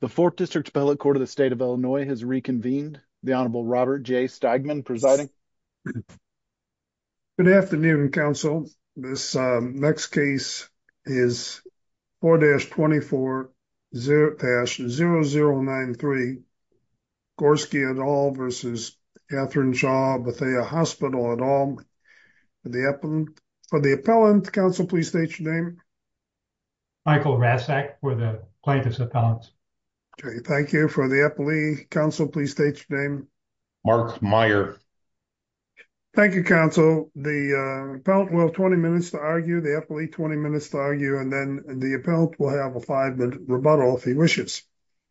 The 4th District Appellate Court of the State of Illinois has reconvened. The Honorable Robert J. Steigman presiding. Good afternoon, counsel. This next case is 4-24-0093 Gorski et al. v. Catherine Shaw Bethea Hospital et al. For the appellant, counsel, please state your name. Michael Rasek for the plaintiff's appellant. Thank you. For the appellee, counsel, please state your name. Mark Meyer. Thank you, counsel. The appellant will have 20 minutes to argue, the appellee 20 minutes to argue, and then the appellant will have a five-minute rebuttal, if he wishes.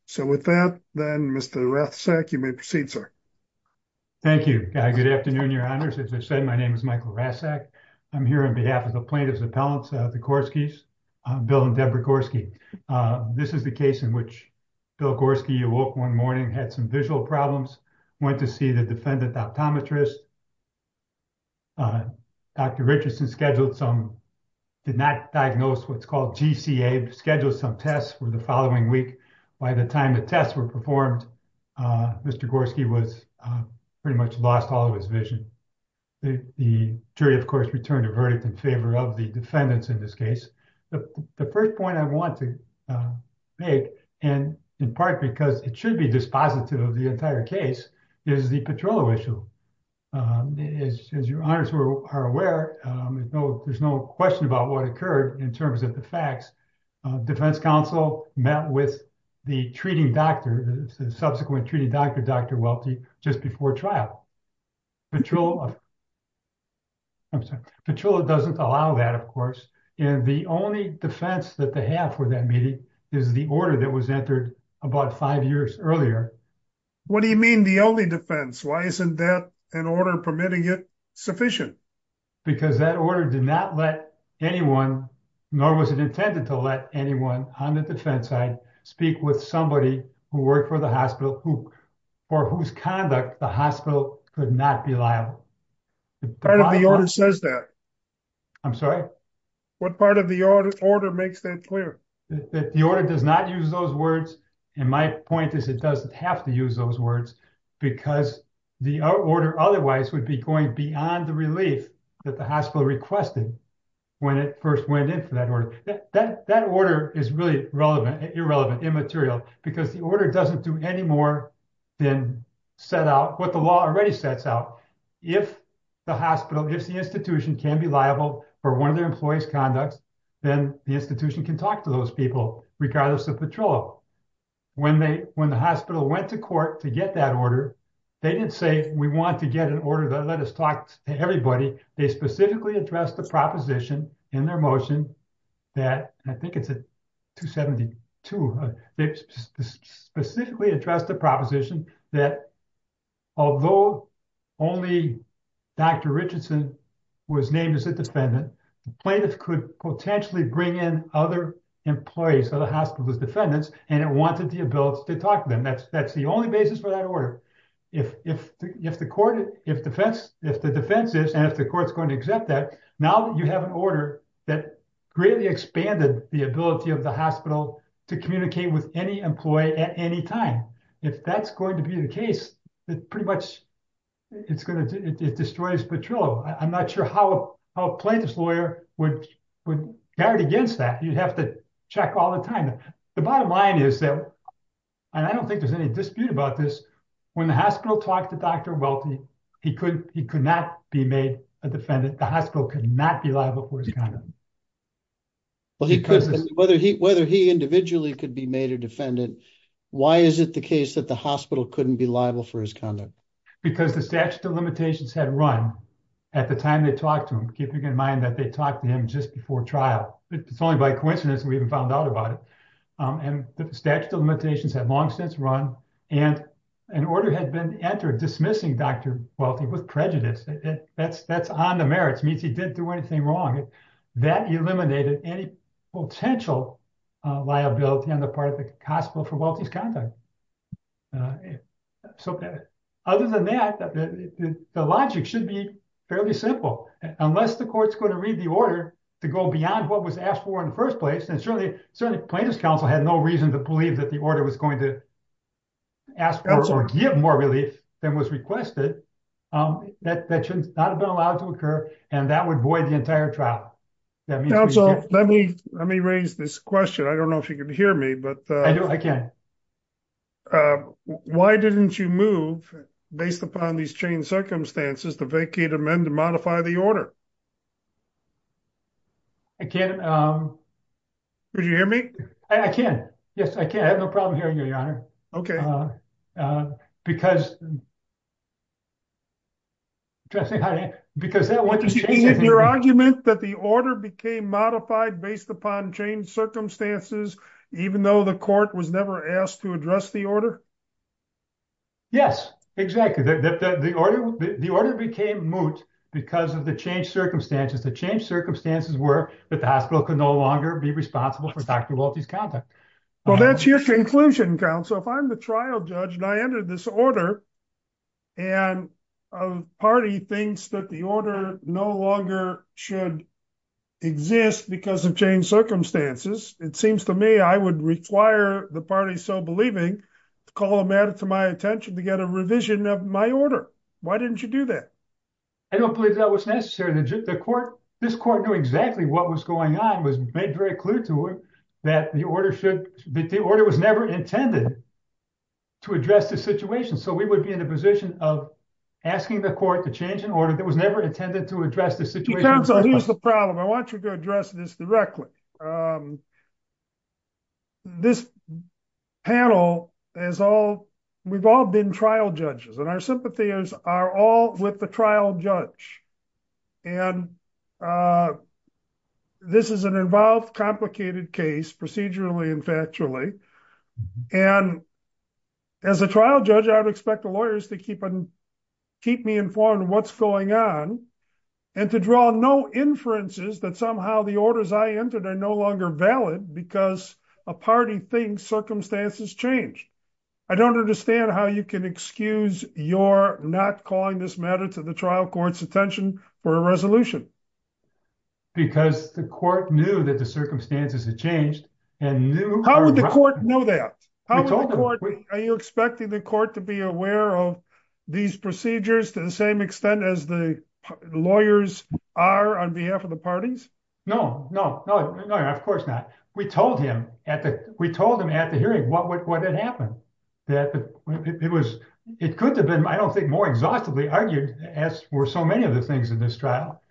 So with that, then, Mr. Rasek, you may proceed, sir. Thank you. Good afternoon, Your Honors. As I said, my name is Michael Rasek. I'm here on behalf of the plaintiff's appellants, the Gorskis, Bill and Deborah Gorski. This is the case in which Bill Gorski awoke one morning, had some visual problems, went to see the defendant optometrist. Dr. Richardson scheduled some, did not diagnose what's called GCA, scheduled some tests for the following week. By the time the tests were performed, Mr. Gorski was pretty much lost all of his vision. The jury, of course, returned a verdict in favor of the defendants in this case. The first point I want to make, and in part because it should be dispositive of the entire case, is the Petrillo issue. As Your Honors are aware, there's no question about what occurred in terms of the facts. Defense counsel met with the treating doctor, the subsequent treating doctor, Dr. Welty, just before trial. Petrillo doesn't allow that, of course. And the only defense that they have for that meeting is the order that was entered about five years earlier. What do you mean the only defense? Why isn't that an order permitting it sufficient? Because that order did not let anyone, nor was it intended to let anyone on the defense side speak with somebody who worked for the hospital for whose conduct the hospital could not be liable. Part of the order says that. I'm sorry? What part of the order makes that clear? The order does not use those words. And my point is it doesn't have to use those words because the order otherwise would be going beyond the relief that the hospital requested when it first went in for that order. That order is really irrelevant, immaterial, because the order doesn't do any more than set out what the law already sets out. If the hospital, if the institution can be liable for one of their employees' conduct, then the institution can talk to those people, regardless of Petrillo. When the hospital went to court to get that order, they didn't say, we want to get an order that let us talk to everybody. They specifically addressed the proposition in their motion that, I think it's at 272, they specifically addressed the proposition that although only Dr. Richardson was named as a defendant, the plaintiff could potentially bring in other employees of the hospital as defendants, and it wanted the ability to talk to them. That's the only basis for that order. If the defense is, and if the court's going to accept that, now you have an order that greatly expanded the ability of the hospital to communicate with any employee at any time. If that's going to be the case, it pretty much, it destroys Petrillo. I'm not sure how a plaintiff's lawyer would guard against that. You'd have to check all the time. The bottom line is that, and I don't think there's any dispute about this, when the hospital talked to Dr. Welty, he could not be made a defendant, the hospital could not be liable for his conduct. Whether he individually could be made a defendant, why is it the case that the hospital couldn't be liable for his conduct? Because the statute of limitations had run at the time they talked to him, keeping in mind that they talked to him just before trial. It's only by coincidence we even found out about it. The statute of limitations had long since run, and an order had been entered dismissing Dr. Welty with prejudice. That's on the merits, means he didn't do anything wrong. That eliminated any potential liability on the part of the hospital for Welty's conduct. Other than that, the logic should be fairly simple. Unless the court's going to read the order to go beyond what was asked for in the first place, and certainly plaintiff's counsel had no reason to believe that the order was going to ask for or give more relief than was requested, that should not have been allowed to occur, and that would void the entire trial. Let me raise this question. I don't know if you can hear me. I do, I can. Why didn't you move, based upon these changed circumstances, to vacate, amend, and modify the order? I can't. Could you hear me? I can. Yes, I can. I have no problem hearing you, Your Honor. Okay. Because, because that went to change. Your argument that the order became modified based upon changed circumstances, even though the court was never asked to address the order? Yes, exactly. That the order became moot because of the changed circumstances. The changed circumstances were that the hospital could no longer be responsible for Dr. Welty's conduct. Well, that's your conclusion, counsel. If I'm the trial judge, and I entered this order, and a party thinks that the order no longer should exist because of changed circumstances, it seems to me I would require the party so believing to call a matter to my attention to get a revision of my order. Why didn't you do that? I don't believe that was necessary. This court knew exactly what was going on, was made very clear to it that the order was never intended to address the situation. So we would be in a position of asking the court to change an order that was never intended to address the situation. Counsel, here's the problem. I want you to address this directly. This panel, we've all been trial judges, and our sympathies are all with the trial judge. And this is an involved, complicated case, procedurally and factually. And as a trial judge, I would expect the lawyers to keep me informed of what's going on and to draw no inferences that somehow the orders I entered are no longer valid because a party thinks circumstances changed. I don't understand how you can excuse your not calling this matter to the trial court's attention for a resolution. Because the court knew that the circumstances had changed. And how would the court know that? Are you expecting the court to be aware of these procedures to the same extent as the lawyers are on behalf of the parties? No, no, no, no, of course not. We told him at the hearing what had happened. It could have been, I don't think, more exhaustively argued, as were so many of the things in this trial,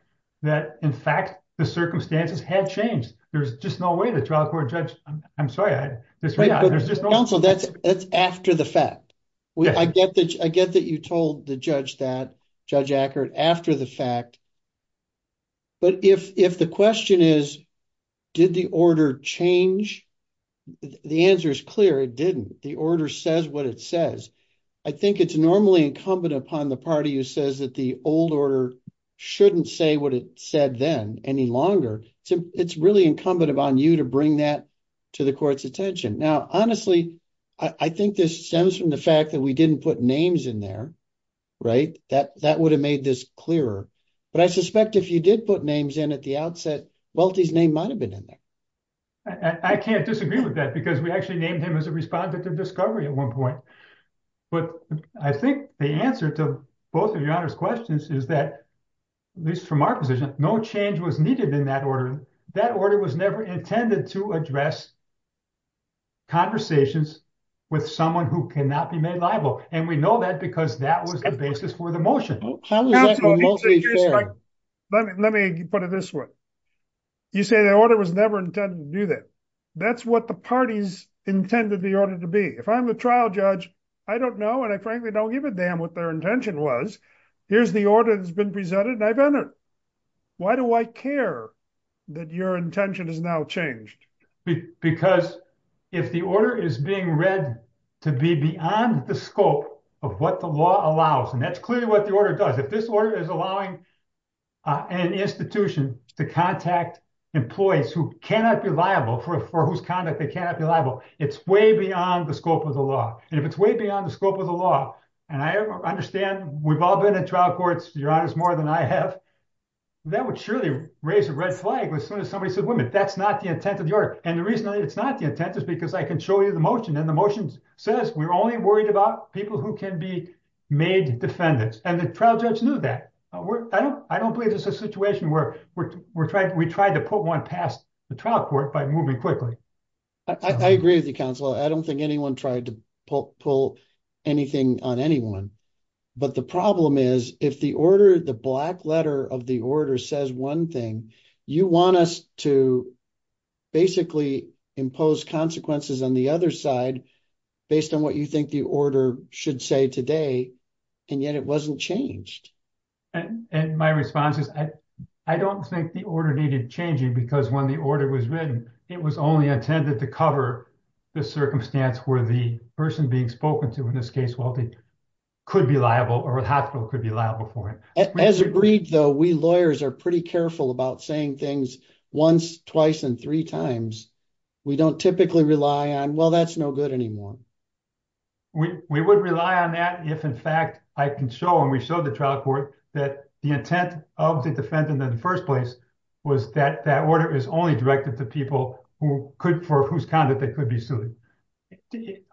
that in fact, the circumstances had changed. There's just no way the trial court judge... I'm sorry. Counsel, that's after the fact. I get that you told the judge that, Judge Ackert, after the fact. But if the question is, did the order change? The answer is clear. It didn't. The order says what it says. I think it's normally incumbent upon the party who says that the old order shouldn't say what it said then any longer. It's really incumbent upon you to bring that to the court's attention. Honestly, I think this stems from the fact that we didn't put names in there. That would have made this clearer. But I suspect if you did put names in at the outset, Welty's name might have been in there. I can't disagree with that because we actually named him as a respondent of discovery at one point. But I think the answer to both of your questions is that, at least from our position, no change was needed in that order. That order was never intended to address conversations with someone who cannot be made liable. And we know that because that was the basis for the motion. Let me put it this way. You say the order was never intended to do that. That's what the parties intended the order to be. If I'm the trial judge, I don't know and I frankly don't give a damn what their intention was. Here's the order that's been presented and I've entered. Why do I care? That your intention has now changed. Because if the order is being read to be beyond the scope of what the law allows, and that's clearly what the order does. If this order is allowing an institution to contact employees who cannot be liable, for whose conduct they cannot be liable, it's way beyond the scope of the law. And if it's way beyond the scope of the law, and I understand we've all been in trial courts, Your Honor, more than I have, that would surely raise a red flag as soon as somebody said, wait a minute, that's not the intent of the order. And the reason that it's not the intent is because I can show you the motion. And the motion says we're only worried about people who can be made defendants. And the trial judge knew that. I don't believe there's a situation where we tried to put one past the trial court by moving quickly. I agree with you, counsel. I don't think anyone tried to pull anything on anyone. But the problem is, if the order, the black letter of the order says one thing, you want us to basically impose consequences on the other side based on what you think the order should say today, and yet it wasn't changed. And my response is, I don't think the order needed changing, because when the order was written, it was only intended to cover the circumstance where the person being spoken to, in this case, could be liable or a hospital could be liable for it. As agreed, though, we lawyers are pretty careful about saying things once, twice, and three times. We don't typically rely on, well, that's no good anymore. We would rely on that if, in fact, I can show and we showed the trial court that the intent of the defendant in the first place was that that order is only directed to people for whose conduct they could be sued.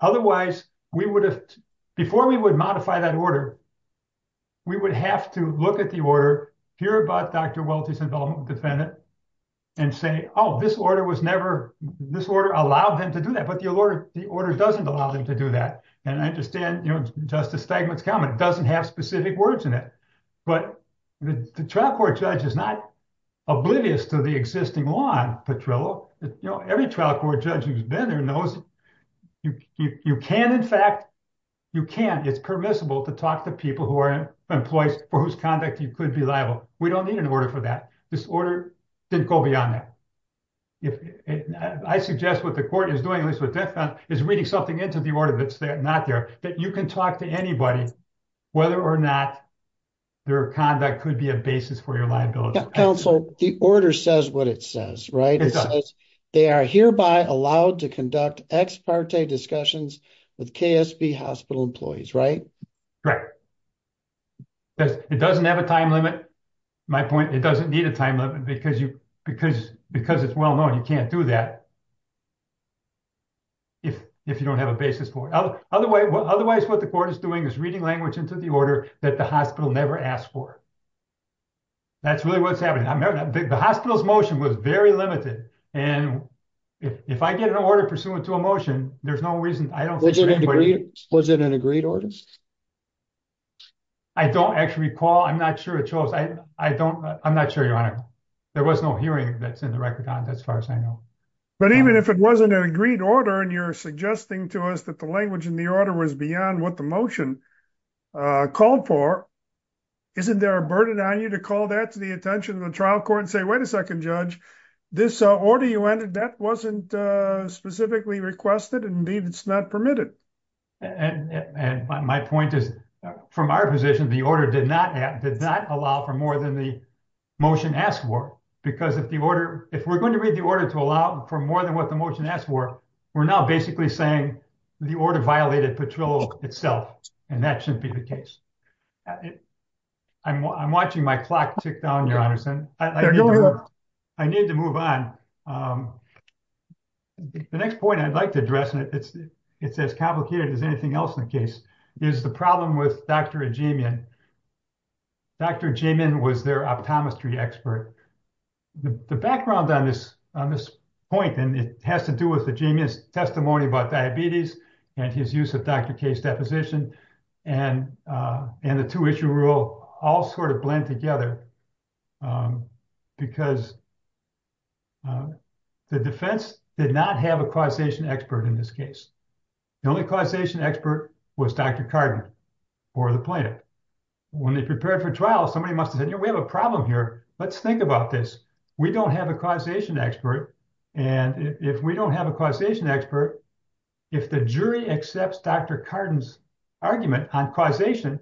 Otherwise, we would have, before we would modify that order, we would have to look at the order, hear about Dr. Welty's involvement with the defendant, and say, oh, this order was never, this order allowed them to do that, but the order doesn't allow them to do that. And I understand, you know, Justice Steigman's comment, doesn't have specific words in it. But the trial court judge is not oblivious to the existing law, Petrillo. Every trial court judge who's been there knows you can, in fact, you can. It's permissible to talk to people who are employees for whose conduct you could be liable. We don't need an order for that. This order didn't go beyond that. I suggest what the court is doing, at least with this one, is reading something into the order that's not there, that you can talk to anybody whether or not their conduct could be a basis for your liability. Counselor, the order says what it says, right? They are hereby allowed to conduct ex parte discussions with KSB hospital employees, right? Right. It doesn't have a time limit. My point, it doesn't need a time limit because it's well known you can't do that if you don't have a basis for it. Otherwise, what the court is doing is reading language into the order that the hospital never asked for. That's really what's happening. I remember the hospital's motion was very limited. And if I get an order pursuant to a motion, there's no reason. I don't think anybody- Was it an agreed order? I don't actually recall. I'm not sure it shows. I don't, I'm not sure, Your Honor. There was no hearing that's in the record on it as far as I know. But even if it wasn't an agreed order and you're suggesting to us that the language in the order was beyond what the motion called for, isn't there a burden on you to call that to the attention of the trial court and say, wait a second, Judge, this order you entered, that wasn't specifically requested. Indeed, it's not permitted. And my point is, from our position, the order did not have, did not allow for more than the motion asked for. Because if the order, if we're going to read the order to allow for more than what the motion asked for, we're now basically saying the order violated Petrillo itself. And that shouldn't be the case. I'm watching my clock tick down, Your Honor. I need to move on. The next point I'd like to address, and it's as complicated as anything else in the case, is the problem with Dr. Ajemian. Dr. Ajemian was their optometry expert. The background on this point, and it has to do with Ajemian's testimony about diabetes and his use of Dr. K's deposition. And the two issue rule all sort of blend together because the defense did not have a causation expert in this case. The only causation expert was Dr. Cardin or the plaintiff. When they prepared for trial, somebody must have said, you know, we have a problem here. Let's think about this. We don't have a causation expert. And if we don't have a causation expert, if the jury accepts Dr. Cardin's argument on causation,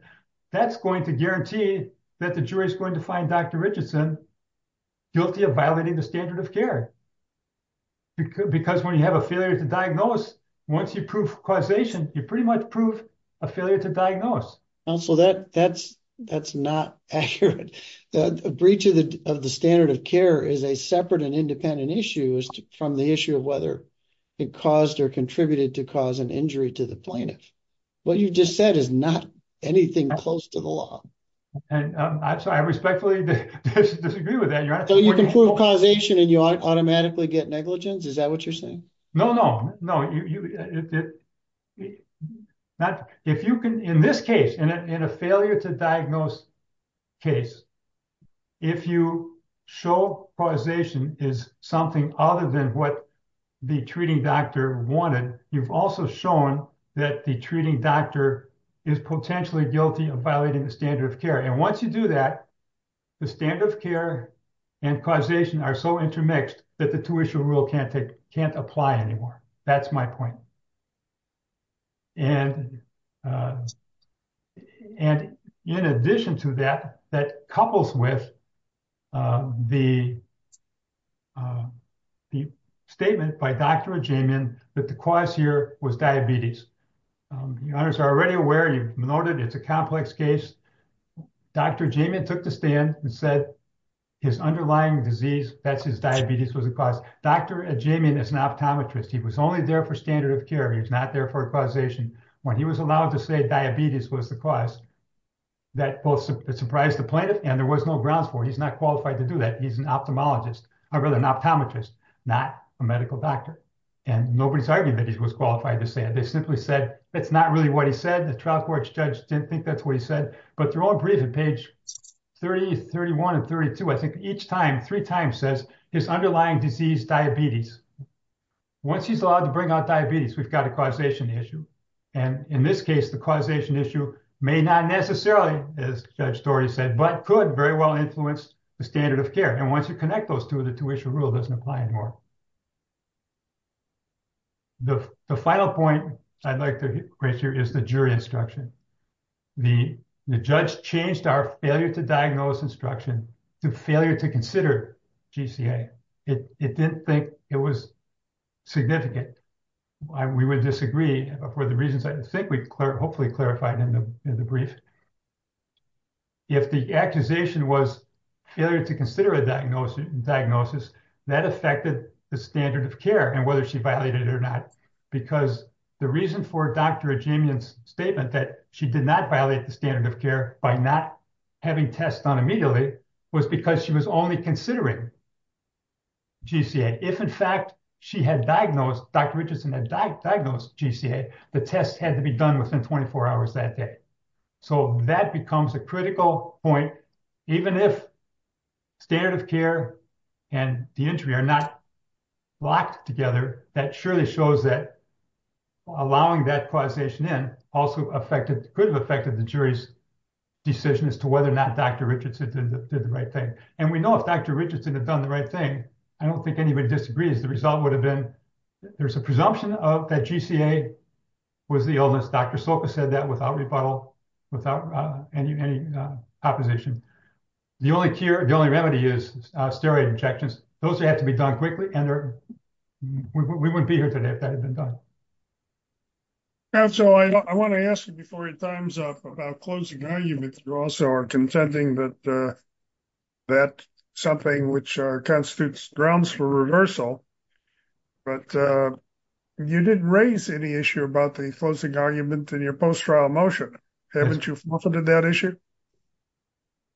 that's going to guarantee that the jury is going to find Dr. Richardson guilty of violating the standard of care. Because when you have a failure to diagnose, once you prove causation, you pretty much prove a failure to diagnose. Counsel, that's not accurate. The breach of the standard of care is a separate and independent issue from the issue of whether it caused or contributed to cause an injury to the plaintiff. What you just said is not anything close to the law. And I respectfully disagree with that. So you can prove causation and you automatically get negligence? Is that what you're saying? No, no, no. If you can, in this case, in a failure to diagnose case, if you show causation is something other than what the treating doctor wanted, you've also shown that the treating doctor is potentially guilty of violating the standard of care. And once you do that, the standard of care and causation are so intermixed that the tuition rule can't apply anymore. That's my point. And in addition to that, that couples with the statement by Dr. Ajaymean that the cause here was diabetes. The owners are already aware, you've noted it's a complex case. Dr. Ajaymean took the stand and said his underlying disease, that's his diabetes was the cause. Dr. Ajaymean is an optometrist. He was only there for standard of care. He was not there for causation. When he was allowed to say diabetes was the cause, that both surprised the plaintiff and there was no grounds for it. He's not qualified to do that. He's an ophthalmologist, I'd rather an optometrist, not a medical doctor. And nobody's arguing that he was qualified to say it. They simply said, it's not really what he said. The trial court judge didn't think that's what he said, but they're all briefed at page 30, 31 and 32. I think each time, three times says his underlying disease, diabetes. Once he's allowed to bring out diabetes, we've got a causation issue. And in this case, the causation issue may not necessarily, as Judge Story said, but could very well influence the standard of care. And once you connect those two, the two issue rule doesn't apply anymore. The final point I'd like to raise here is the jury instruction. The judge changed our failure to diagnose instruction to failure to consider GCA. It didn't think it was significant. We would disagree for the reasons I think we hopefully clarified in the brief. If the accusation was failure to consider a diagnosis, that affected the standard of care and whether she violated it or not. Because the reason for Dr. Ajamian's statement that she did not violate the standard of care by not having tests done immediately was because she was only considering GCA. If in fact she had diagnosed, Dr. Richardson had diagnosed GCA, the tests had to be done within 24 hours that day. So that becomes a critical point. Even if standard of care and the injury are not locked together, that surely shows that allowing that causation in also could have affected the jury's decision as to whether or not Dr. Richardson did the right thing. And we know if Dr. Richardson had done the right thing, I don't think anybody disagrees. The result would have been, there's a presumption of that GCA was the illness. Dr. Soka said that without rebuttal, without any opposition. The only cure, the only remedy is steroid injections. Those have to be done quickly and we wouldn't be here today if that had been done. And so I wanna ask you before your time's up about closing arguments. You also are contending that something which constitutes grounds for reversal, but you didn't raise any issue about the closing argument in your post-trial motion. Haven't you forfeited that issue?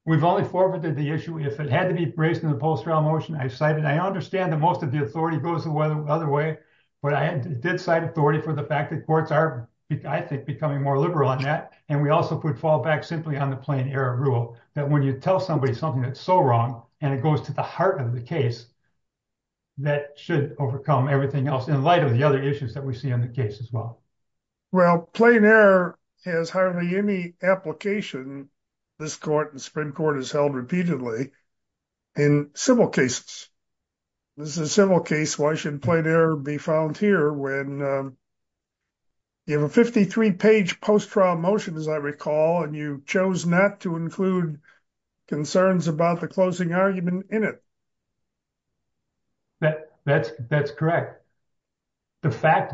We've only forfeited the issue if it had to be raised in the post-trial motion. I cited, I understand that most of the authority goes the other way, but I did cite authority for the fact that courts are, I think, becoming more liberal on that. And we also could fall back simply on the plain error rule that when you tell somebody something that's so wrong and it goes to the heart of the case, that should overcome everything else in light of the other issues that we see in the case as well. Well, plain error has hardly any application. This court and Supreme Court has held repeatedly in civil cases. This is a civil case, why should plain error be found here when you have a 53-page post-trial motion, as I recall, and you chose not to include concerns about the closing argument in it. That's correct. The fact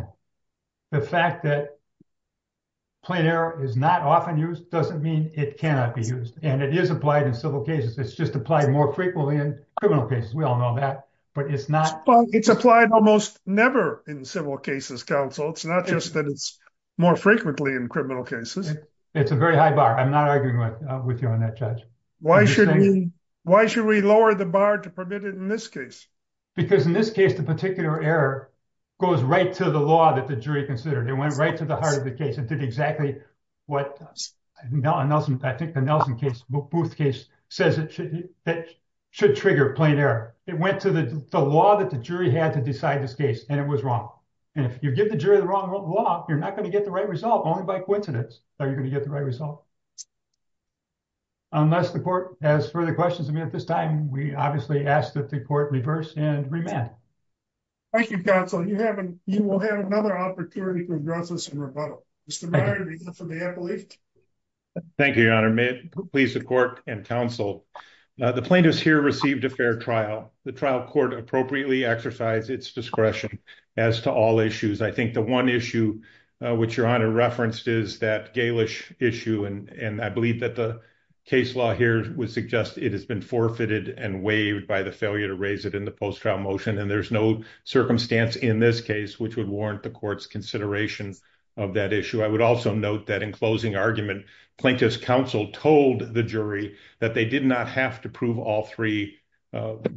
that plain error is not often used doesn't mean it cannot be used. And it is applied in civil cases. It's just applied more frequently in criminal cases. We all know that, but it's not- It's applied almost never in civil cases, counsel. It's not just that it's more frequently in criminal cases. It's a very high bar. I'm not arguing with you on that, Judge. Why should we lower the bar to permit it in this case? Because in this case, the particular error goes right to the law that the jury considered. It went right to the heart of the case. It did exactly what I think the Nelson case, Booth case, says it should trigger plain error. It went to the law that the jury had to decide this case, and it was wrong. And if you give the jury the wrong law, you're not gonna get the right result. Only by coincidence are you gonna get the right result. Unless the court has further questions, I mean, at this time, we obviously ask that the court reverse and remand. Thank you, counsel. You will have another opportunity to address this in rebuttal. Mr. Meyer, do you have something you have to leave to me? Thank you, Your Honor. May it please the court and counsel. The plaintiff's here received a fair trial. The trial court appropriately exercised its discretion as to all issues. I think the one issue which Your Honor referenced is that Galish issue. And I believe that the case law here would suggest it has been forfeited and waived by the failure to raise it in the post-trial motion. And there's no circumstance in this case which would warrant the court's consideration of that issue. I would also note that in closing argument, plaintiff's counsel told the jury that they did not have to prove all three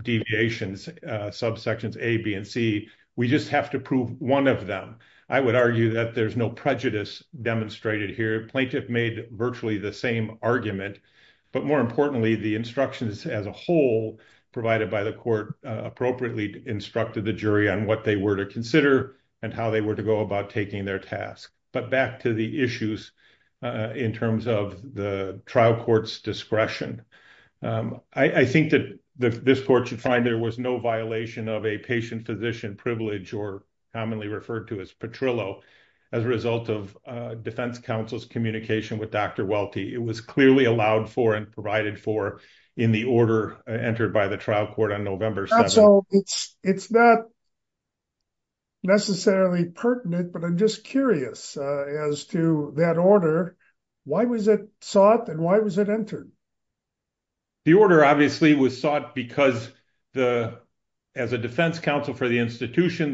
deviations, subsections A, B, and C. We just have to prove one of them. I would argue that there's no prejudice demonstrated here. Plaintiff made virtually the same argument. But more importantly, the instructions as a whole provided by the court appropriately instructed the jury on what they were to consider and how they were to go about taking their task. But back to the issues in terms of the trial court's discretion. I think that this court should find there was no violation of a patient physician privilege or commonly referred to as Petrillo as a result of defense counsel's communication with Dr. Welty. It was clearly allowed for and provided for in the order entered by the trial court on November 7th. So it's not necessarily pertinent, but I'm just curious as to that order, why was it sought and why was it entered? The order obviously was sought because as a defense counsel for the institution,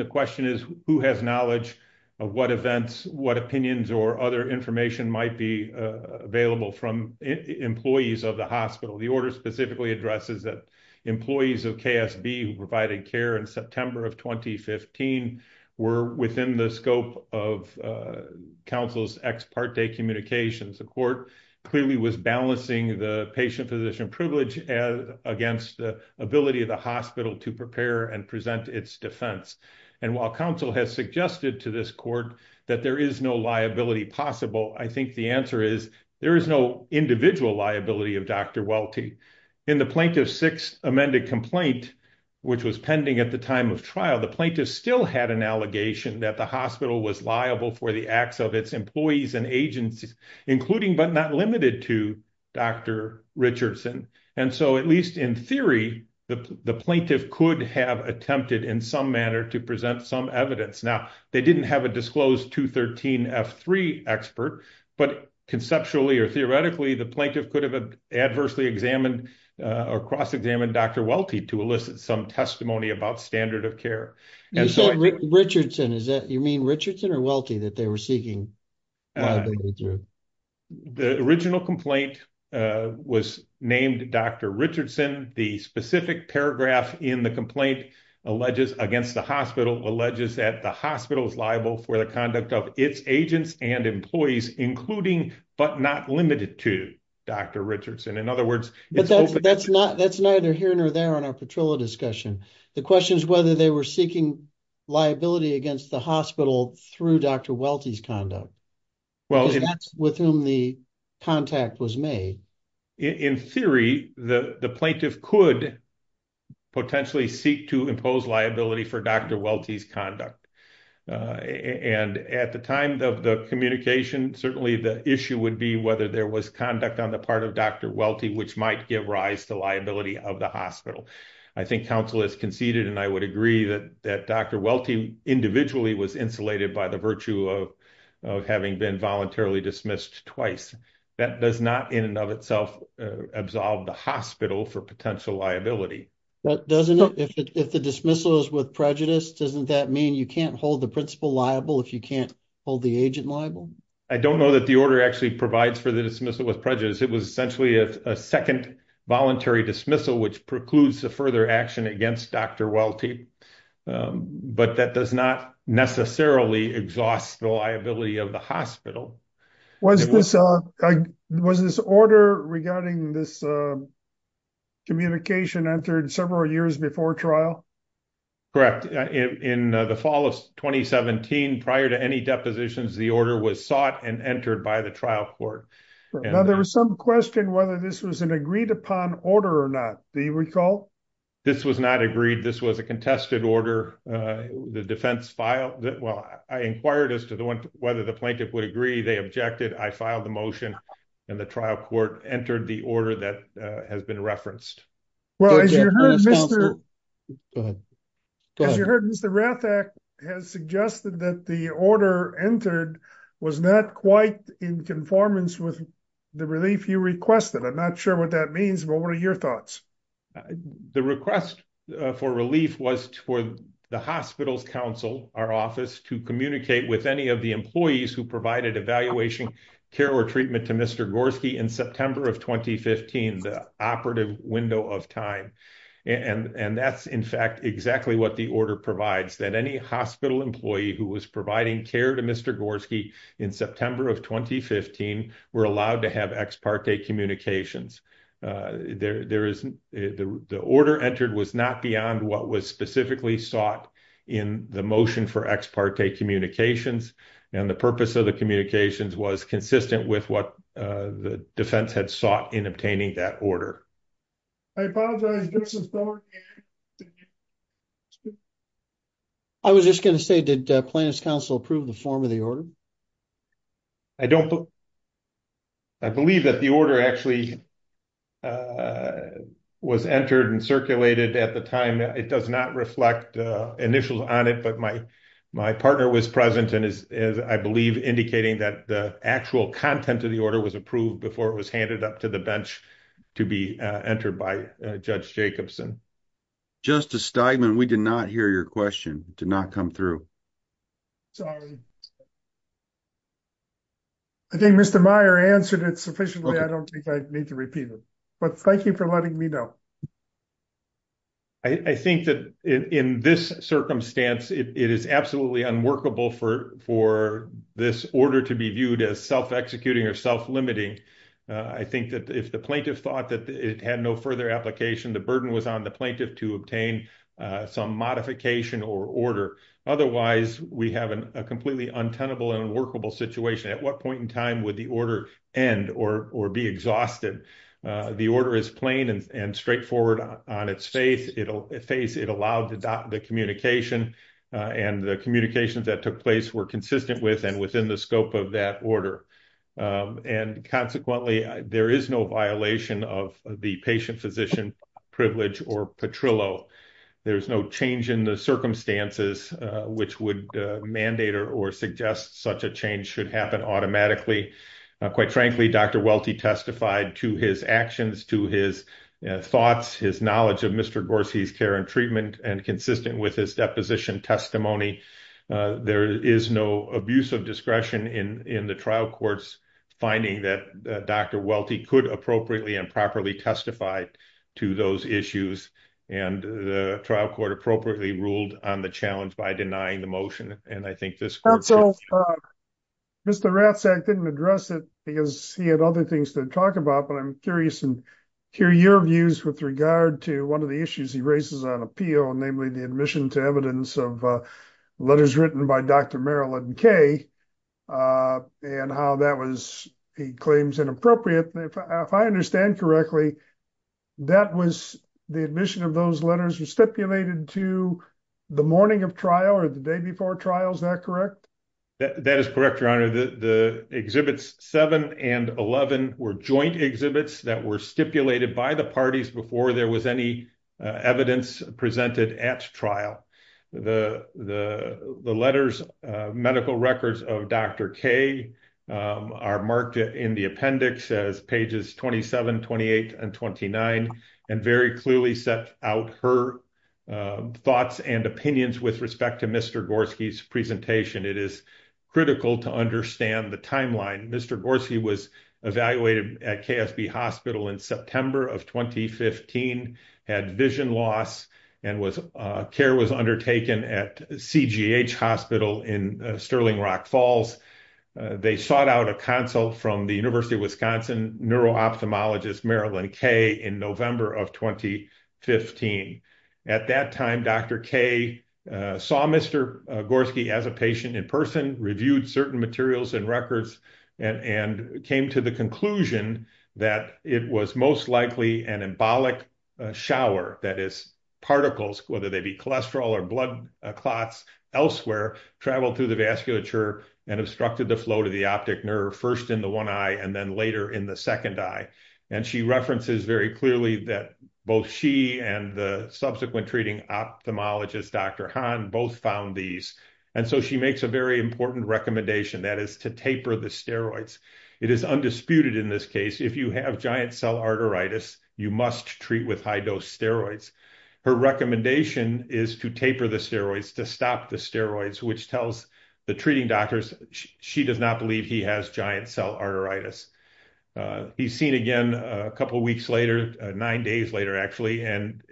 who has knowledge of what events, what opinions or other information might be available from employees of the hospital. The order specifically addresses that employees of KSB who provided care in September of 2015 were within the scope of counsel's ex parte communications. The court clearly was balancing the patient physician privilege against the ability of the hospital to prepare and present its defense. And while counsel has suggested to this court that there is no liability possible, I think the answer is there is no individual liability of Dr. Welty. In the plaintiff's sixth amended complaint, which was pending at the time of trial, the plaintiff still had an allegation that the hospital was liable for the acts of its employees and agencies, including but not limited to Dr. Richardson. And so at least in theory, the plaintiff could have attempted in some manner to present some evidence. Now, they didn't have a disclosed 213 F3 expert, but conceptually or theoretically, the plaintiff could have adversely examined or cross-examined Dr. Welty to elicit some testimony about standard of care. And so- You said Richardson, is that, you mean Richardson or Welty that they were seeking liability through? The original complaint was named Dr. Richardson. The specific paragraph in the complaint against the hospital alleges that the hospital is liable for the conduct of its agents and employees, including but not limited to Dr. Richardson. In other words- But that's neither here nor there on our Petrillo discussion. The question is whether they were seeking liability against the hospital through Dr. Welty's conduct. Well- Because that's with whom the contact was made. In theory, the plaintiff could potentially seek to impose liability for Dr. Welty's conduct. And at the time of the communication, certainly the issue would be whether there was conduct on the part of Dr. Welty, which might give rise to liability of the hospital. I think counsel has conceded, and I would agree that Dr. Welty individually was insulated by the virtue of having been voluntarily dismissed twice. That does not in and of itself absolve the hospital for potential liability. Doesn't it, if the dismissal is with prejudice, doesn't that mean you can't hold the principal liable if you can't hold the agent liable? I don't know that the order actually provides for the dismissal with prejudice. It was essentially a second voluntary dismissal, which precludes the further action against Dr. Welty. But that does not necessarily exhaust the liability of the hospital. Was this order regarding this communication entered several years before trial? Correct. In the fall of 2017, prior to any depositions, the order was sought and entered by the trial court. Now there was some question whether this was an agreed upon order or not. Do you recall? This was not agreed. This was a contested order. The defense filed it. Well, I inquired as to whether the plaintiff would agree. They objected. I filed the motion and the trial court entered the order that has been referenced. Well, as you heard, Mr. Rathack has suggested that the order entered was not quite in conformance with the relief you requested. I'm not sure what that means, but what are your thoughts? The request for relief was for the hospital's counsel, our office, to communicate with any of the employees who provided evaluation care or treatment to Mr. Gorski in September of 2015. The operative window of time. And that's, in fact, exactly what the order provides, that any hospital employee who was providing care to Mr. Gorski in September of 2015 were allowed to have ex parte communications. The order entered was not beyond what was specifically sought in the motion for ex parte communications. And the purpose of the communications was consistent with what the defense had sought in obtaining that order. I apologize, Justice Beller. I was just going to say, did plaintiff's counsel approve the form of the order? I don't, I believe that the order actually was entered and circulated at the time. It does not reflect initials on it, but my partner was present and is, I believe, indicating that the actual content of the order was approved before it was handed up to the bench to be entered by Judge Jacobson. Justice Steigman, we did not hear your question, did not come through. I think Mr. Meyer answered it sufficiently. I don't think I need to repeat it. But thank you for letting me know. I think that in this circumstance, it is absolutely unworkable for this order to be viewed as self-executing or self-limiting. I think that if the plaintiff thought that it had no further application, the burden was on the plaintiff to obtain some modification or order. Otherwise, we have a completely untenable and unworkable situation. At what point in time would the order end or be exhausted? The order is plain and straightforward on its face. It allowed the communication and the communications that took place were consistent with and within the scope of that order. And consequently, there is no violation of the patient physician privilege or patrillo. There's no change in the circumstances which would mandate or suggest such a change should happen automatically. Quite frankly, Dr. Welty testified to his actions, to his thoughts, his knowledge of Mr. Gorski's care and treatment and consistent with his deposition testimony. There is no abuse of discretion in the trial courts finding that Dr. Welty could appropriately and properly testify to those issues. And the trial court appropriately ruled on the challenge by denying the motion. And I think this court- So Mr. Ratzak didn't address it because he had other things to talk about, but I'm curious to hear your views with regard to one of the issues he raises on appeal, namely the admission to evidence of letters written by Dr. Marilyn Kaye and how that was, he claims, inappropriate. If I understand correctly, that was the admission of those letters were stipulated to the morning of trial or the day before trial, is that correct? That is correct, your honor. The exhibits seven and 11 were joint exhibits that were stipulated by the parties before there was any evidence presented at trial. The letters, medical records of Dr. Kaye are marked in the appendix as pages 27, 28, and 29 and very clearly set out her thoughts and opinions with respect to Mr. Gorski's presentation. It is critical to understand the timeline. Mr. Gorski was evaluated at KSB hospital in September of 2015, had vision loss and care was undertaken at CGH hospital in Sterling Rock Falls. They sought out a consult from the University of Wisconsin neuro-ophthalmologist Marilyn Kaye in November of 2015. At that time, Dr. Kaye saw Mr. Gorski as a patient in person, reviewed certain materials and records and came to the conclusion that it was most likely an embolic shower that is particles, whether they be cholesterol or blood clots elsewhere, traveled through the vasculature and obstructed the flow to the optic nerve first in the one eye and then later in the second eye. And she references very clearly that both she and the subsequent treating ophthalmologist, Dr. Han both found these. And so she makes a very important recommendation that is to taper the steroids. It is undisputed in this case, if you have giant cell arteritis, you must treat with high dose steroids. Her recommendation is to taper the steroids, to stop the steroids, which tells the treating doctors, she does not believe he has giant cell arteritis. He's seen again a couple of weeks later, nine days later actually. And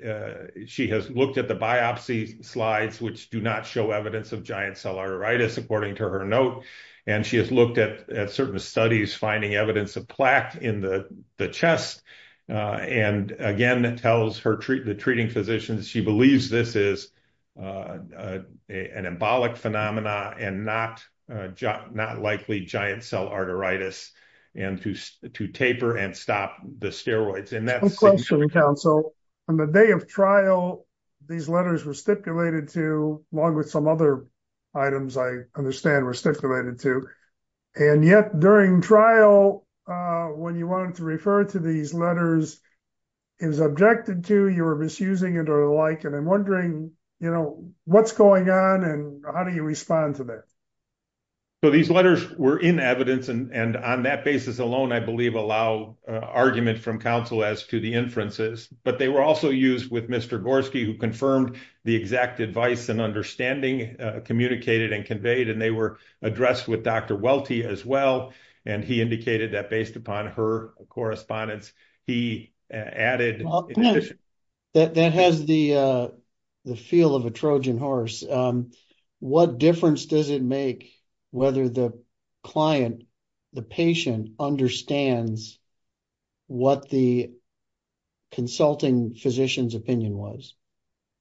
she has looked at the biopsy slides which do not show evidence of giant cell arteritis according to her note. And she has looked at certain studies, finding evidence of plaque in the chest. And again, it tells the treating physicians, she believes this is an embolic phenomena and not likely giant cell arteritis and to taper and stop the steroids. And that's- One question, counsel. On the day of trial, these letters were stipulated to, along with some other items I understand were stipulated to. And yet during trial, when you wanted to refer to these letters, it was objected to, you were misusing it or the like. And I'm wondering, what's going on and how do you respond to that? So these letters were in evidence and on that basis alone, I believe allow argument from counsel as to the inferences, but they were also used with Mr. Gorski who confirmed the exact advice and understanding communicated and conveyed. And they were addressed with Dr. Welty as well. And he indicated that based upon her correspondence, he added- That has the feel of a Trojan horse. What difference does it make whether the client, the patient understands what the consulting physician's opinion was?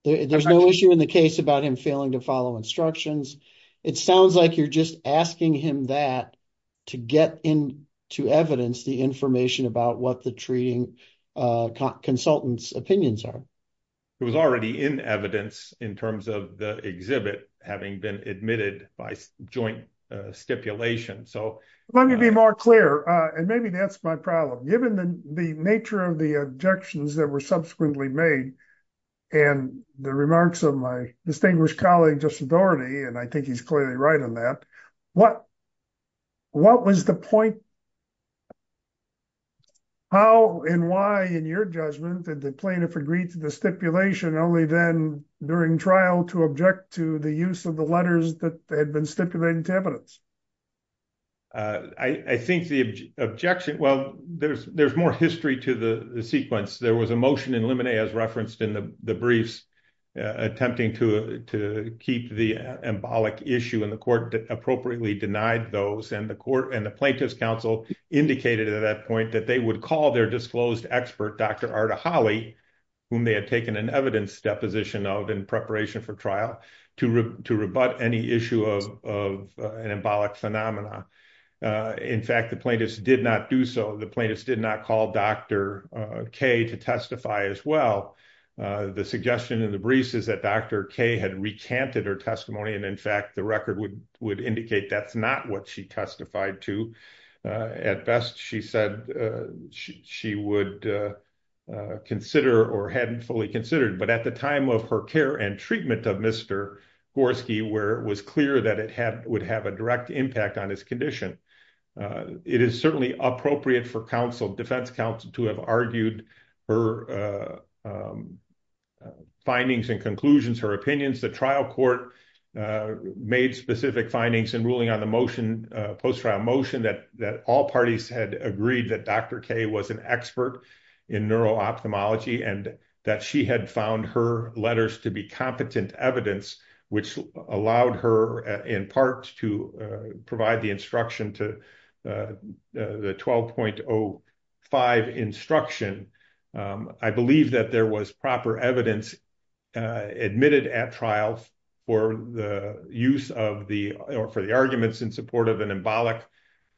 There's no issue in the case about him failing to follow instructions. It sounds like you're just asking him that to get in to evidence the information about what the treating consultant's opinions are. It was already in evidence in terms of the exhibit, having been admitted by joint stipulation. So- Let me be more clear. And maybe that's my problem. Given the nature of the objections that were subsequently made and the remarks of my distinguished colleague, and I think he's clearly right on that. What was the point- How and why in your judgment did the plaintiff agreed to the stipulation only then during trial to object to the use of the letters that had been stipulated to evidence? I think the objection- Well, there's more history to the sequence. There was a motion in limine as referenced in the briefs attempting to keep the embolic issue and the court appropriately denied those. And the plaintiff's counsel indicated at that point that they would call their disclosed expert, Dr. Arda Holly, whom they had taken an evidence deposition of in preparation for trial to rebut any issue of an embolic phenomena. In fact, the plaintiffs did not do so. The plaintiffs did not call Dr. K to testify as well. The suggestion in the briefs is that Dr. K had recanted her testimony. And in fact, the record would indicate that's not what she testified to. At best, she said she would consider or hadn't fully considered. But at the time of her care and treatment of Mr. Gorski, where it was clear that it would have a direct impact on his condition, it is certainly appropriate for counsel, defense counsel, to have argued her findings and conclusions, her opinions. The trial court made specific findings in ruling on the motion, post-trial motion that all parties had agreed that Dr. K was an expert in neuro-ophthalmology and that she had found her letters to be competent evidence, which allowed her in part to provide the instruction to the 12.05 instruction. I believe that there was proper evidence admitted at trial for the use of the, or for the arguments in support of an embolic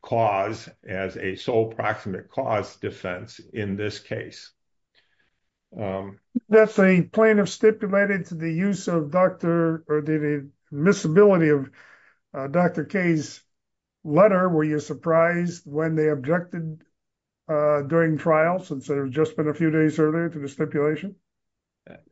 cause as a sole proximate cause defense in this case. That's a plaintiff stipulated to the use of Dr., or the admissibility of Dr. K's letter. Were you surprised when they objected during trial since there had just been a few days earlier to the stipulation?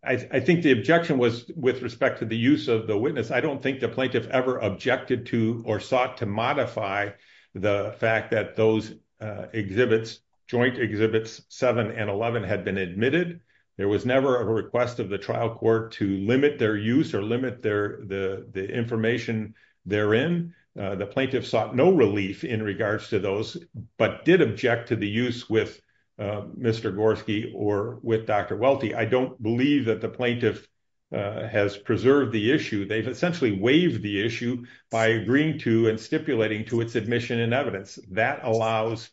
I think the objection was with respect to the use of the witness. I don't think the plaintiff ever objected to or sought to modify the fact that those exhibits, joint exhibits seven and 11 had been admitted. There was never a request of the trial court to limit their use or limit the information therein. The plaintiff sought no relief in regards to those, but did object to the use with Mr. Gorski or with Dr. Welty. I don't believe that the plaintiff has preserved the issue. They've essentially waived the issue by agreeing to and stipulating to its admission and evidence. That allows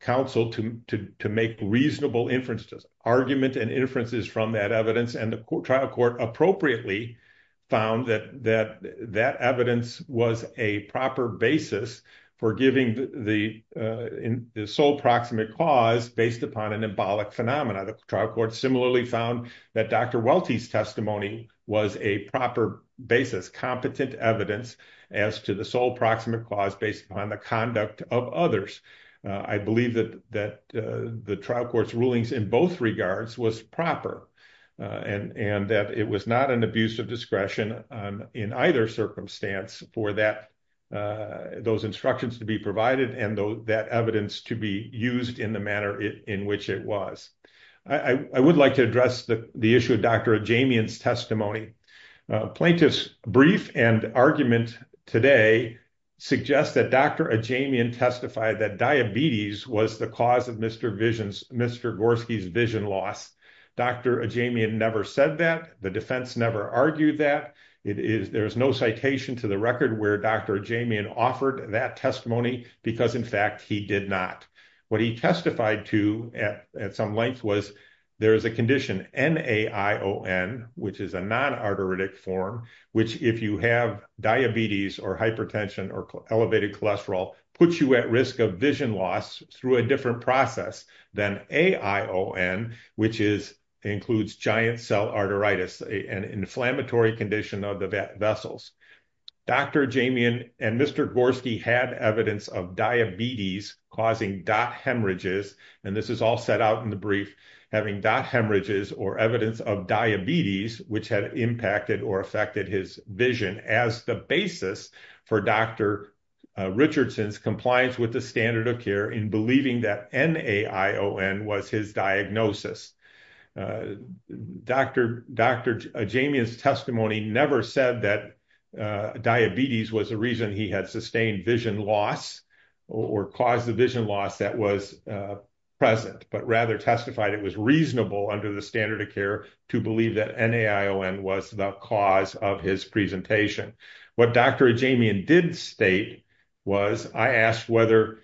counsel to make reasonable inferences, argument and inferences from that evidence and the trial court appropriately found that evidence was a proper basis for giving the sole proximate cause based upon an embolic phenomena. The trial court similarly found that Dr. Welty's testimony was a proper basis, competent evidence as to the sole proximate cause based upon the conduct of others. I believe that the trial court's rulings in both regards was proper. And that it was not an abuse of discretion in either circumstance for those instructions to be provided and that evidence to be used in the manner in which it was. I would like to address the issue of Dr. Ajamian's testimony. Plaintiff's brief and argument today suggests that Dr. Ajamian testified that diabetes was the cause of Mr. Gorski's vision loss. Dr. Ajamian never said that. The defense never argued that. There is no citation to the record where Dr. Ajamian offered that testimony because in fact he did not. What he testified to at some length was there is a condition NAION which is a non-arteritic form which if you have diabetes or hypertension or elevated cholesterol puts you at risk of vision loss through a different process than AION which includes giant cell arteritis an inflammatory condition of the vessels. Dr. Ajamian and Mr. Gorski had evidence of diabetes causing dot hemorrhages and this is all set out in the brief having dot hemorrhages or evidence of diabetes which had impacted or affected his vision as the basis for Dr. Richardson's compliance with the standard of care in believing that NAION was his diagnosis. Dr. Ajamian's testimony never said that diabetes was the reason he had sustained vision loss or caused the vision loss that was present but rather testified it was reasonable under the standard of care to believe that NAION was the cause of his presentation. What Dr. Ajamian did state was I asked whether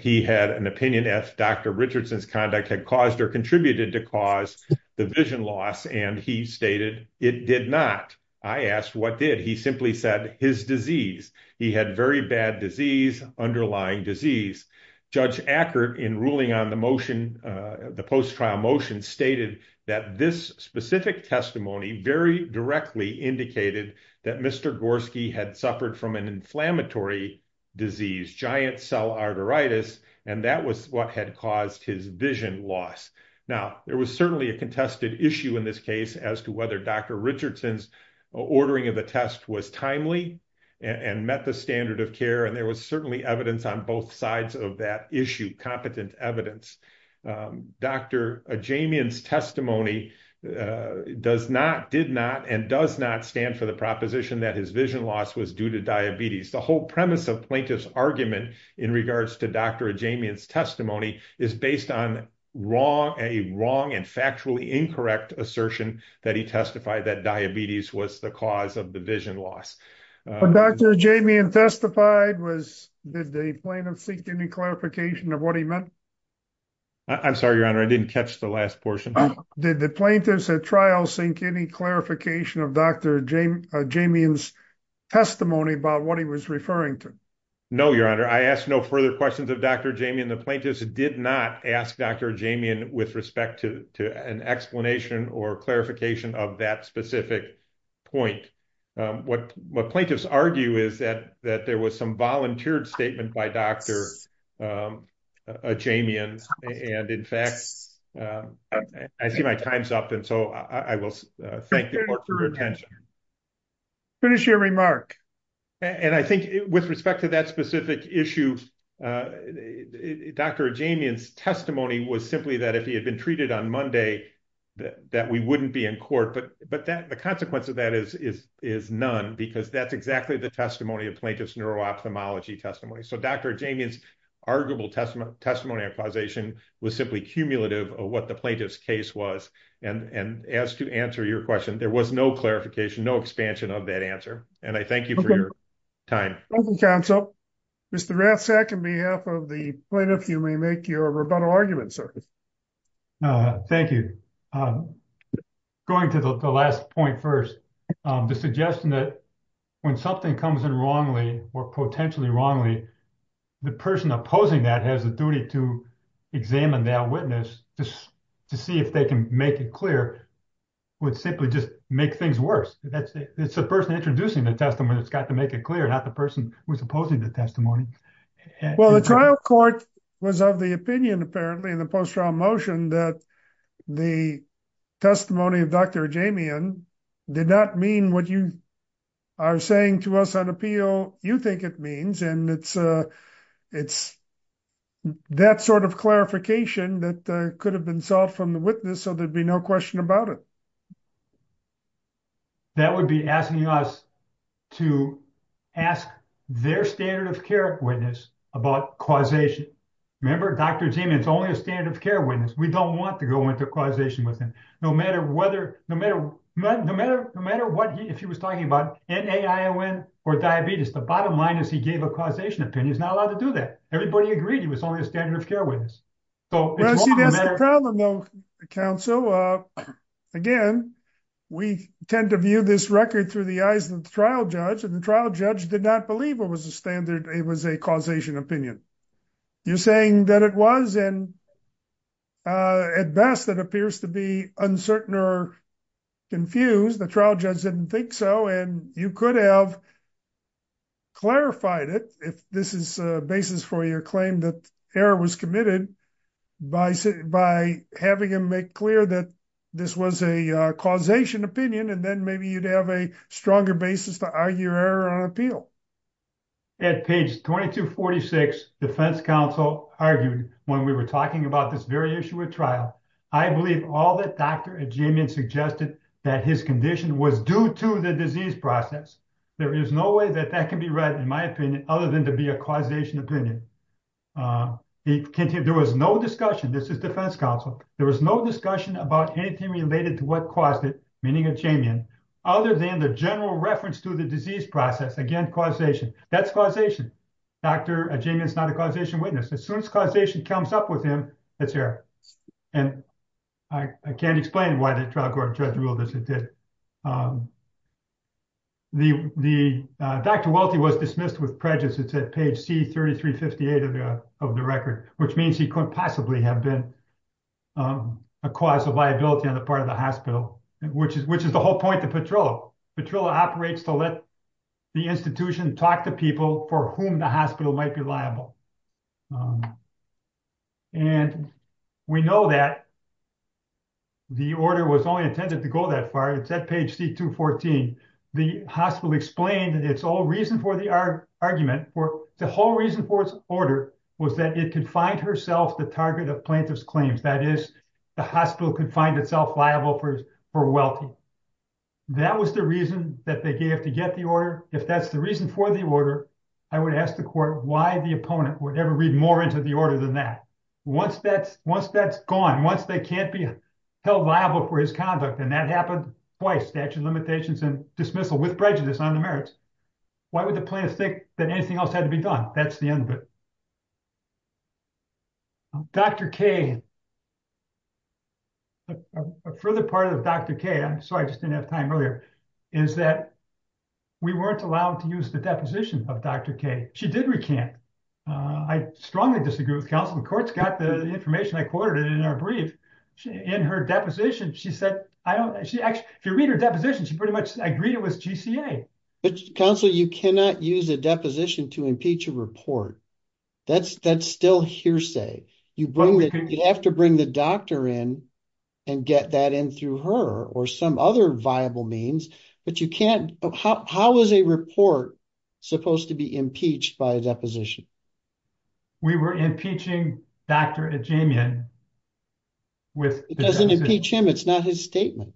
he had an opinion as Dr. Richardson's conduct had caused or contributed to cause the vision loss and he stated it did not. I asked what did he simply said his disease. He had very bad disease underlying disease. Judge Ackert in ruling on the motion the post-trial motion stated that this specific testimony very directly indicated that Mr. Gorski had suffered from an inflammatory disease, giant cell arteritis and that was what had caused his vision loss. Now, there was certainly a contested issue in this case as to whether Dr. Richardson's ordering of the test was timely and met the standard of care and there was certainly evidence on both sides of that issue, competent evidence. Dr. Ajamian's testimony does not, did not and does not stand for the proposition that his vision loss was due to diabetes. The whole premise of plaintiff's argument in regards to Dr. Ajamian's testimony is based on wrong, a wrong and factually incorrect assertion that he testified that diabetes was the cause of the vision loss. When Dr. Ajamian testified was, did the plaintiff seek any clarification of what he meant? I'm sorry, your honor, I didn't catch the last portion. Did the plaintiffs at trial sink any clarification of Dr. Ajamian's testimony about what he was referring to? No, your honor. I asked no further questions of Dr. Ajamian. The plaintiffs did not ask Dr. Ajamian with respect to an explanation or clarification of that specific point. What plaintiffs argue is that there was some volunteered statement by Dr. Ajamian and in fact, I see my time's up and so I will thank the court for your attention. Finish your remark. And I think with respect to that specific issue, Dr. Ajamian's testimony was simply that if he had been treated on Monday, that we wouldn't be in court, but the consequence of that is none because that's exactly the testimony of plaintiff's neuro-ophthalmology testimony. So Dr. Ajamian's arguable testimony and causation was simply cumulative of what the plaintiff's case was and as to answer your question, there was no clarification, no expansion of that answer. And I thank you for your time. Mr. Ratzak, on behalf of the plaintiff, you may make your rebuttal argument, sir. Thank you. Going to the last point first, the suggestion that when something comes in wrongly or potentially wrongly, the person opposing that has the duty to examine that witness to see if they can make it clear would simply just make things worse. It's the person introducing the testimony that's got to make it clear, not the person who's opposing the testimony. Well, the trial court was of the opinion apparently in the post-trial motion that the testimony of Dr. Ajamian did not mean what you are saying to us on appeal you think it means. And it's that sort of clarification that could have been solved from the witness, so there'd be no question about it. That would be asking us to ask their standard of care witness about causation. Remember, Dr. Ajamian's only a standard of care witness. We don't want to go into causation with him. No matter what he, if he was talking about NAION or diabetes, the bottom line is he gave a causation opinion. He's not allowed to do that. Everybody agreed he was only a standard of care witness. Well, see, that's the problem, though, counsel. Again, we tend to view this record through the eyes of the trial judge, and the trial judge did not believe it was a causation opinion. You're saying that it was, and at best, that appears to be uncertain or confused. The trial judge didn't think so, and you could have clarified it if this is a basis for your claim that error was committed by having him make clear that this was a causation opinion, and then maybe you'd have a stronger basis to argue error on appeal. At page 2246, defense counsel argued when we were talking about this very issue at trial, I believe all that Dr. Ajamian suggested that his condition was due to the disease process. There is no way that that can be read, in my opinion, other than to be a causation opinion. He continued, there was no discussion, this is defense counsel, there was no discussion about anything related to what caused it, meaning Ajamian, other than the general reference to the disease process, again, causation. That's causation. Dr. Ajamian is not a causation witness. As soon as causation comes up with him, that's error, and I can't explain why the trial court judge ruled as it did. Dr. Welty was dismissed with prejudice. It's at page C-3358 of the record, which means he couldn't possibly have been a cause of liability on the part of the hospital, which is the whole point of Petrillo. Petrillo operates to let the institution talk to people for whom the hospital might be liable. And we know that the order was only intended to go that far. It's at page C-214. The hospital explained its whole reason for the argument, the whole reason for its order was that it could find herself the target of plaintiff's claims. That is, the hospital could find itself liable for Welty. That was the reason that they gave to get the order. If that's the reason for the order, I would ask the court why the opponent would ever read more into the order than that. Once that's gone, once they can't be held liable for his conduct, and that happened twice, statute of limitations and dismissal with prejudice on the merits, why would the plaintiff think that anything else had to be done? That's the end of it. Dr. Kay, a further part of Dr. Kay, I'm sorry, I just didn't have time earlier, is that we weren't allowed to use the deposition of Dr. Kay. She did recant. I strongly disagree with counsel. The court's got the information. I quoted it in our brief. In her deposition, she said, I don't, she actually, if you read her deposition, she pretty much agreed it was GCA. But counsel, you cannot use a deposition to impeach a report. That's still hearsay. You have to bring the doctor in and get that in through her or some other viable means, but you can't, how is a report supposed to be impeached by a deposition? We were impeaching Dr. Ajamian with- It doesn't impeach him. It's not his statement.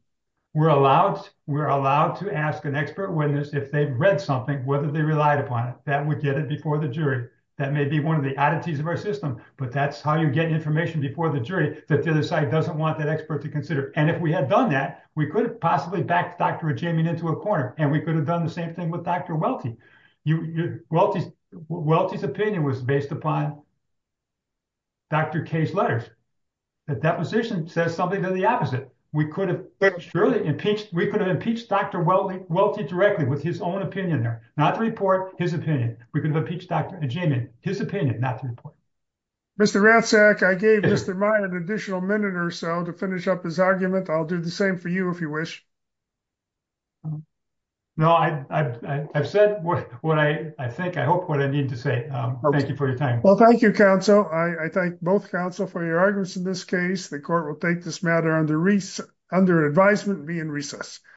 We're allowed to ask an expert if they've read something, whether they relied upon it. That would get it before the jury. That may be one of the oddities of our system, but that's how you get information before the jury that the other side doesn't want that expert to consider. And if we had done that, we could have possibly backed Dr. Ajamian into a corner and we could have done the same thing with Dr. Welty. Welty's opinion was based upon Dr. Kay's letters. The deposition says something to the opposite. We could have surely impeached, we could have impeached Dr. Welty directly with his own opinion there. Not the report, his opinion. We could have impeached Dr. Ajamian, his opinion, not the report. Mr. Ratzak, I gave Mr. Meyer an additional minute or so to finish up his argument. I'll do the same for you if you wish. No, I've said what I think, I hope what I need to say. Thank you for your time. Well, thank you, counsel. I thank both counsel for your arguments in this case. The court will take this matter under advisement and be in recess.